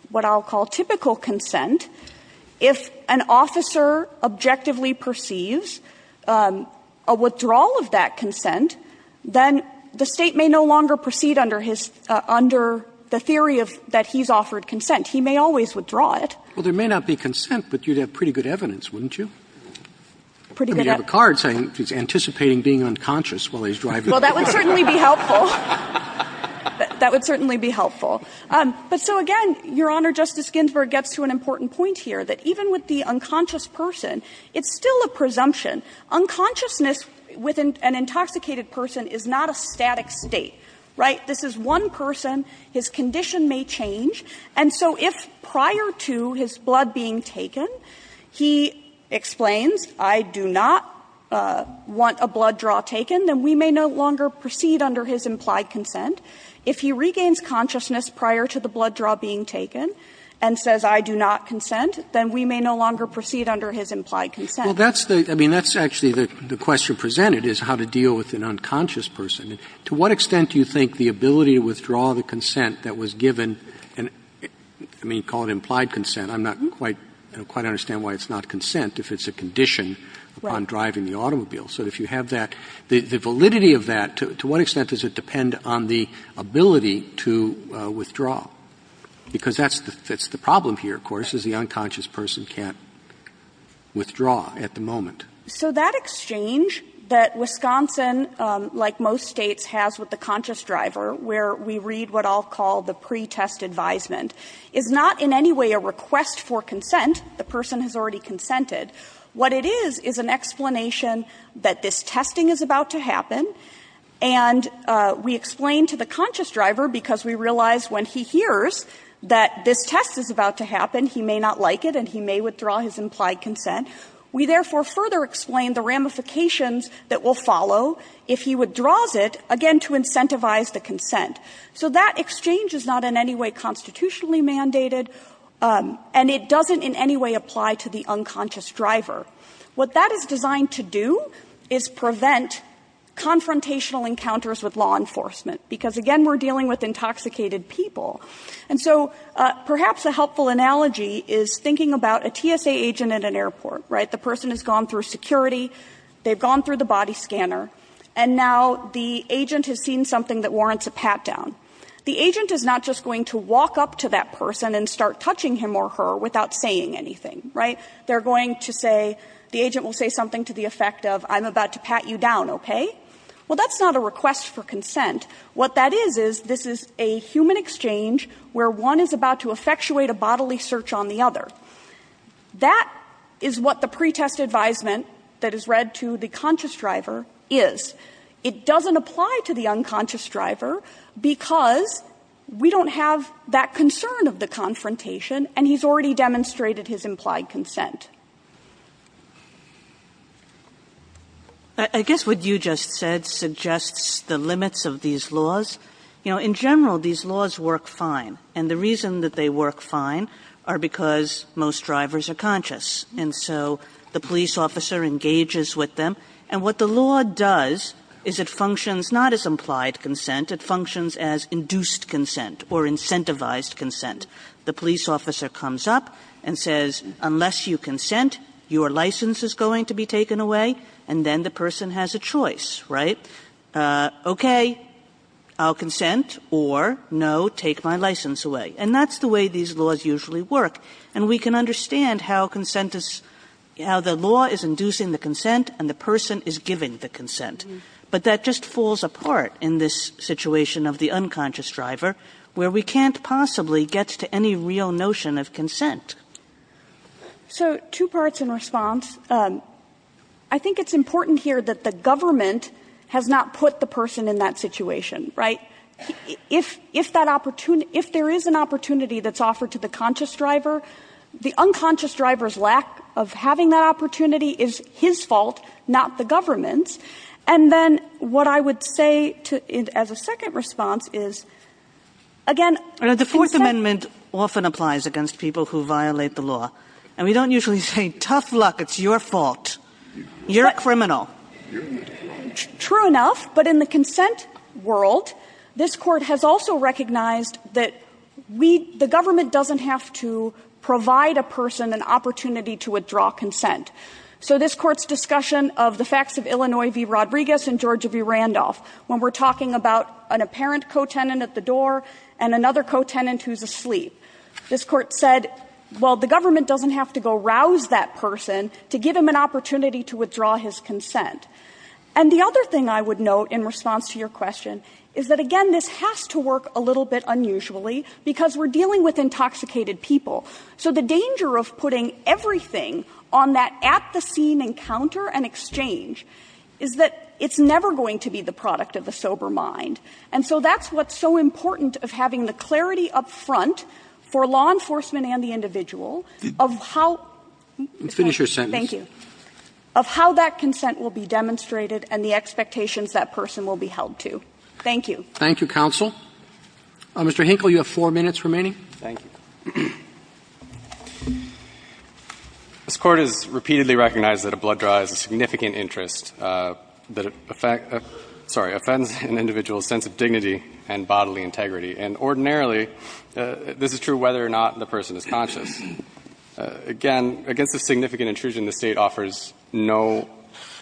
what I'll call typical consent, if an officer objectively perceives a withdrawal of that consent, then the State may no longer proceed under his under the theory of that he's offered consent. He may always withdraw it. Roberts. Well, there may not be consent, but you'd have pretty good evidence, wouldn't you? I mean, you have a card saying he's anticipating being unconscious while he's driving. Well, that would certainly be helpful. That would certainly be helpful. But so, again, Your Honor, Justice Ginsburg gets to an important point here, that even with the unconscious person, it's still a presumption. Unconsciousness with an intoxicated person is not a static state. Right? This is one person. His condition may change. And so if prior to his blood being taken, he explains, I do not want a blood draw taken, then we may no longer proceed under his implied consent. If he regains consciousness prior to the blood draw being taken and says, I do not want consent, then we may no longer proceed under his implied consent. Well, that's the – I mean, that's actually the question presented, is how to deal with an unconscious person. To what extent do you think the ability to withdraw the consent that was given – I mean, you call it implied consent. I'm not quite – I don't quite understand why it's not consent if it's a condition upon driving the automobile. So if you have that, the validity of that, to what extent does it depend on the ability to withdraw? Because that's the problem here, of course, is the unconscious person can't withdraw at the moment. So that exchange that Wisconsin, like most states, has with the conscious driver, where we read what I'll call the pretest advisement, is not in any way a request for consent. The person has already consented. What it is is an explanation that this testing is about to happen, and we explain to the conscious driver, because we realize when he hears that this test is about to happen, he may not like it and he may withdraw his implied consent, we therefore further explain the ramifications that will follow if he withdraws it, again, to incentivize the consent. So that exchange is not in any way constitutionally mandated, and it doesn't in any way apply to the unconscious driver. What that is designed to do is prevent confrontational encounters with law enforcement, because, again, we're dealing with intoxicated people. And so perhaps a helpful analogy is thinking about a TSA agent at an airport, right? The person has gone through security. They've gone through the body scanner. And now the agent has seen something that warrants a pat-down. The agent is not just going to walk up to that person and start touching him or her without saying anything, right? They're going to say the agent will say something to the effect of, I'm about to pat you down, okay? Well, that's not a request for consent. What that is is this is a human exchange where one is about to effectuate a bodily search on the other. That is what the pretest advisement that is read to the conscious driver is. It doesn't apply to the unconscious driver because we don't have that concern of the confrontation, and he's already demonstrated his implied consent. I guess what you just said suggests the limits of these laws. You know, in general, these laws work fine. And the reason that they work fine are because most drivers are conscious, and so the police officer engages with them. And what the law does is it functions not as implied consent. It functions as induced consent or incentivized consent. The police officer comes up and says, unless you consent, your license is going to be taken away. And then the person has a choice, right? Okay, I'll consent, or no, take my license away. And that's the way these laws usually work. And we can understand how consent is, how the law is inducing the consent and the person is giving the consent. But that just falls apart in this situation of the unconscious driver where we can't possibly get to any real notion of consent. So two parts in response. I think it's important here that the government has not put the person in that situation, right? If that opportunity, if there is an opportunity that's offered to the conscious driver, the unconscious driver's lack of having that opportunity is his fault, not the government's. And then what I would say as a second response is, again, consent ---- Kagan The Fourth Amendment often applies against people who violate the law. And we don't usually say, tough luck, it's your fault. You're a criminal. Sullivan True enough. But in the consent world, this Court has also recognized that we, the government doesn't have to provide a person an opportunity to withdraw consent. So this Court's discussion of the facts of Illinois v. Rodriguez and Georgia v. Randolph, when we're talking about an apparent co-tenant at the door and another co-tenant who's asleep, this Court said, well, the government doesn't have to go rouse that person to give him an opportunity to withdraw his consent. And the other thing I would note in response to your question is that, again, this has to work a little bit unusually because we're dealing with intoxicated people. So the danger of putting everything on that at-the-scene encounter and exchange is that it's never going to be the product of the sober mind. And so that's what's so important of having the clarity up front for law enforcement and the individual of how ---- Roberts Let's finish your sentence. Sullivan Thank you. Of how that consent will be demonstrated and the expectations that person will be held to. Thank you. Roberts Thank you, counsel. Mr. Hinkle, you have four minutes remaining. Hinkle Thank you. This Court has repeatedly recognized that a blood draw is a significant interest that affects ---- sorry, offends an individual's sense of dignity and bodily integrity. And ordinarily, this is true whether or not the person is conscious. Again, against this significant intrusion, the State offers no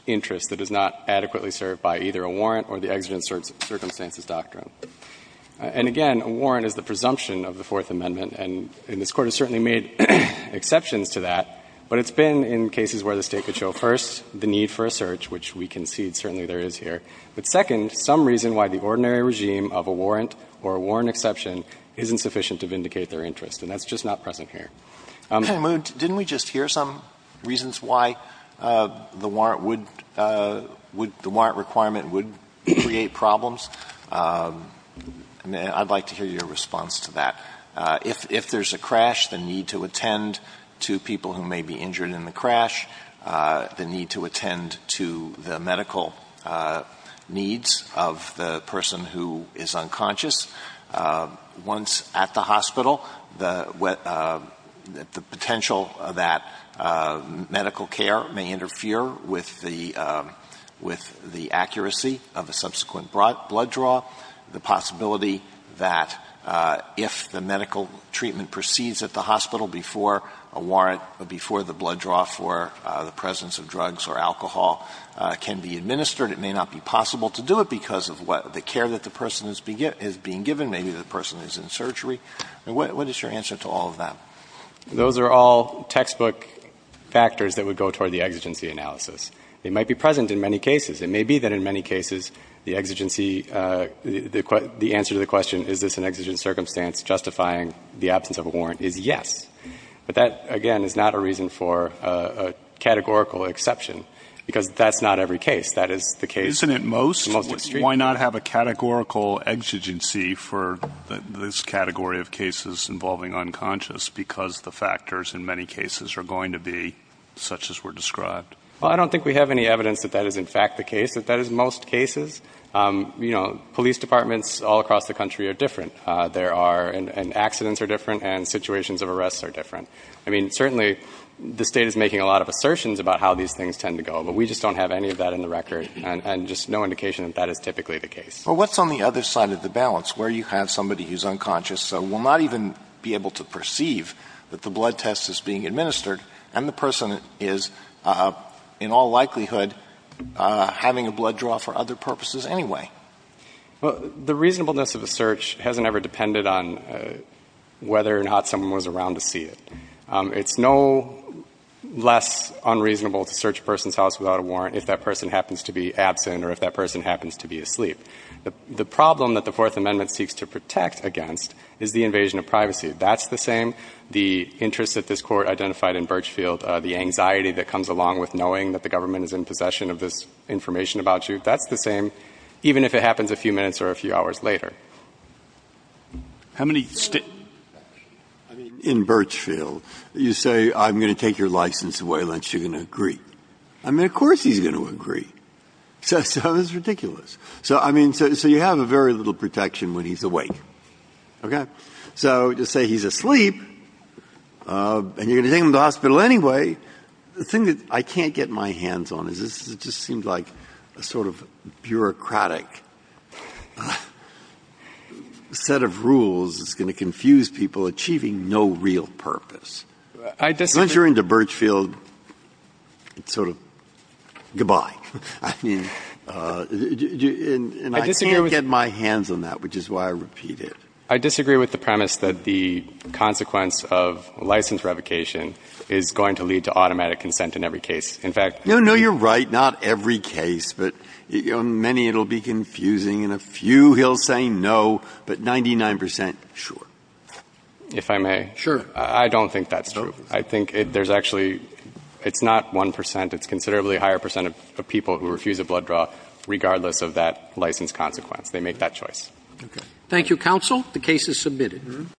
interest that is not adequately served by either a warrant or the exigent circumstances doctrine. And again, a warrant is the presumption of the Fourth Amendment, and this Court has certainly made exceptions to that. But it's been in cases where the State could show, first, the need for a search, which we concede certainly there is here. But second, some reason why the ordinary regime of a warrant or a warrant exception isn't sufficient to vindicate their interest. And that's just not present here. Alito Didn't we just hear some reasons why the warrant would ---- the warrant requirement would create problems? I'd like to hear your response to that. If there's a crash, the need to attend to people who may be injured in the crash, the need to attend to the medical needs of the person who is unconscious. Once at the hospital, the potential that medical care may interfere with the accuracy of a subsequent blood draw, the possibility that if the medical treatment proceeds at the hospital before a warrant, before the blood draw for the presence of drugs or alcohol can be administered, it may not be possible to do it because of the care that the person is being given, maybe the person is in surgery. What is your answer to all of that? Those are all textbook factors that would go toward the exigency analysis. They might be present in many cases. It may be that in many cases the exigency, the answer to the question, is this an exigent circumstance justifying the absence of a warrant, is yes. But that, again, is not a reason for a categorical exception, because that's not every case. That is the case ---- Isn't it most? Why not have a categorical exigency for this category of cases involving unconscious because the factors in many cases are going to be such as were described? Well, I don't think we have any evidence that that is in fact the case, that that is most cases. You know, police departments all across the country are different. There are ---- and accidents are different and situations of arrests are different. I mean, certainly the state is making a lot of assertions about how these things tend to go, but we just don't have any of that in the record and just no indication that that is typically the case. Well, what's on the other side of the balance, where you have somebody who's is being administered and the person is in all likelihood having a blood draw for other purposes anyway? Well, the reasonableness of a search hasn't ever depended on whether or not someone was around to see it. It's no less unreasonable to search a person's house without a warrant if that person happens to be absent or if that person happens to be asleep. The problem that the Fourth Amendment seeks to protect against is the invasion of privacy. That's the same. The interest that this Court identified in Birchfield, the anxiety that comes along with knowing that the government is in possession of this information about you, that's the same, even if it happens a few minutes or a few hours later. How many state ---- I mean, in Birchfield, you say I'm going to take your license away unless you're going to agree. I mean, of course he's going to agree. So it's ridiculous. So, I mean, so you have a very little protection when he's awake. Okay? So to say he's asleep and you're going to take him to the hospital anyway, the thing that I can't get my hands on is this just seems like a sort of bureaucratic set of rules that's going to confuse people, achieving no real purpose. I disagree. Once you're into Birchfield, it's sort of goodbye. I mean, and I can't get my hands on that, which is why I repeat it. I disagree with the premise that the consequence of license revocation is going to lead to automatic consent in every case. In fact ---- No, no, you're right. Not every case, but in many it will be confusing. In a few he'll say no, but 99 percent, sure. If I may. Sure. I don't think that's true. I think there's actually ---- it's not 1 percent. It's considerably higher percent of people who refuse a blood draw regardless of that license consequence. They make that choice. Okay. Thank you, counsel. The case is submitted.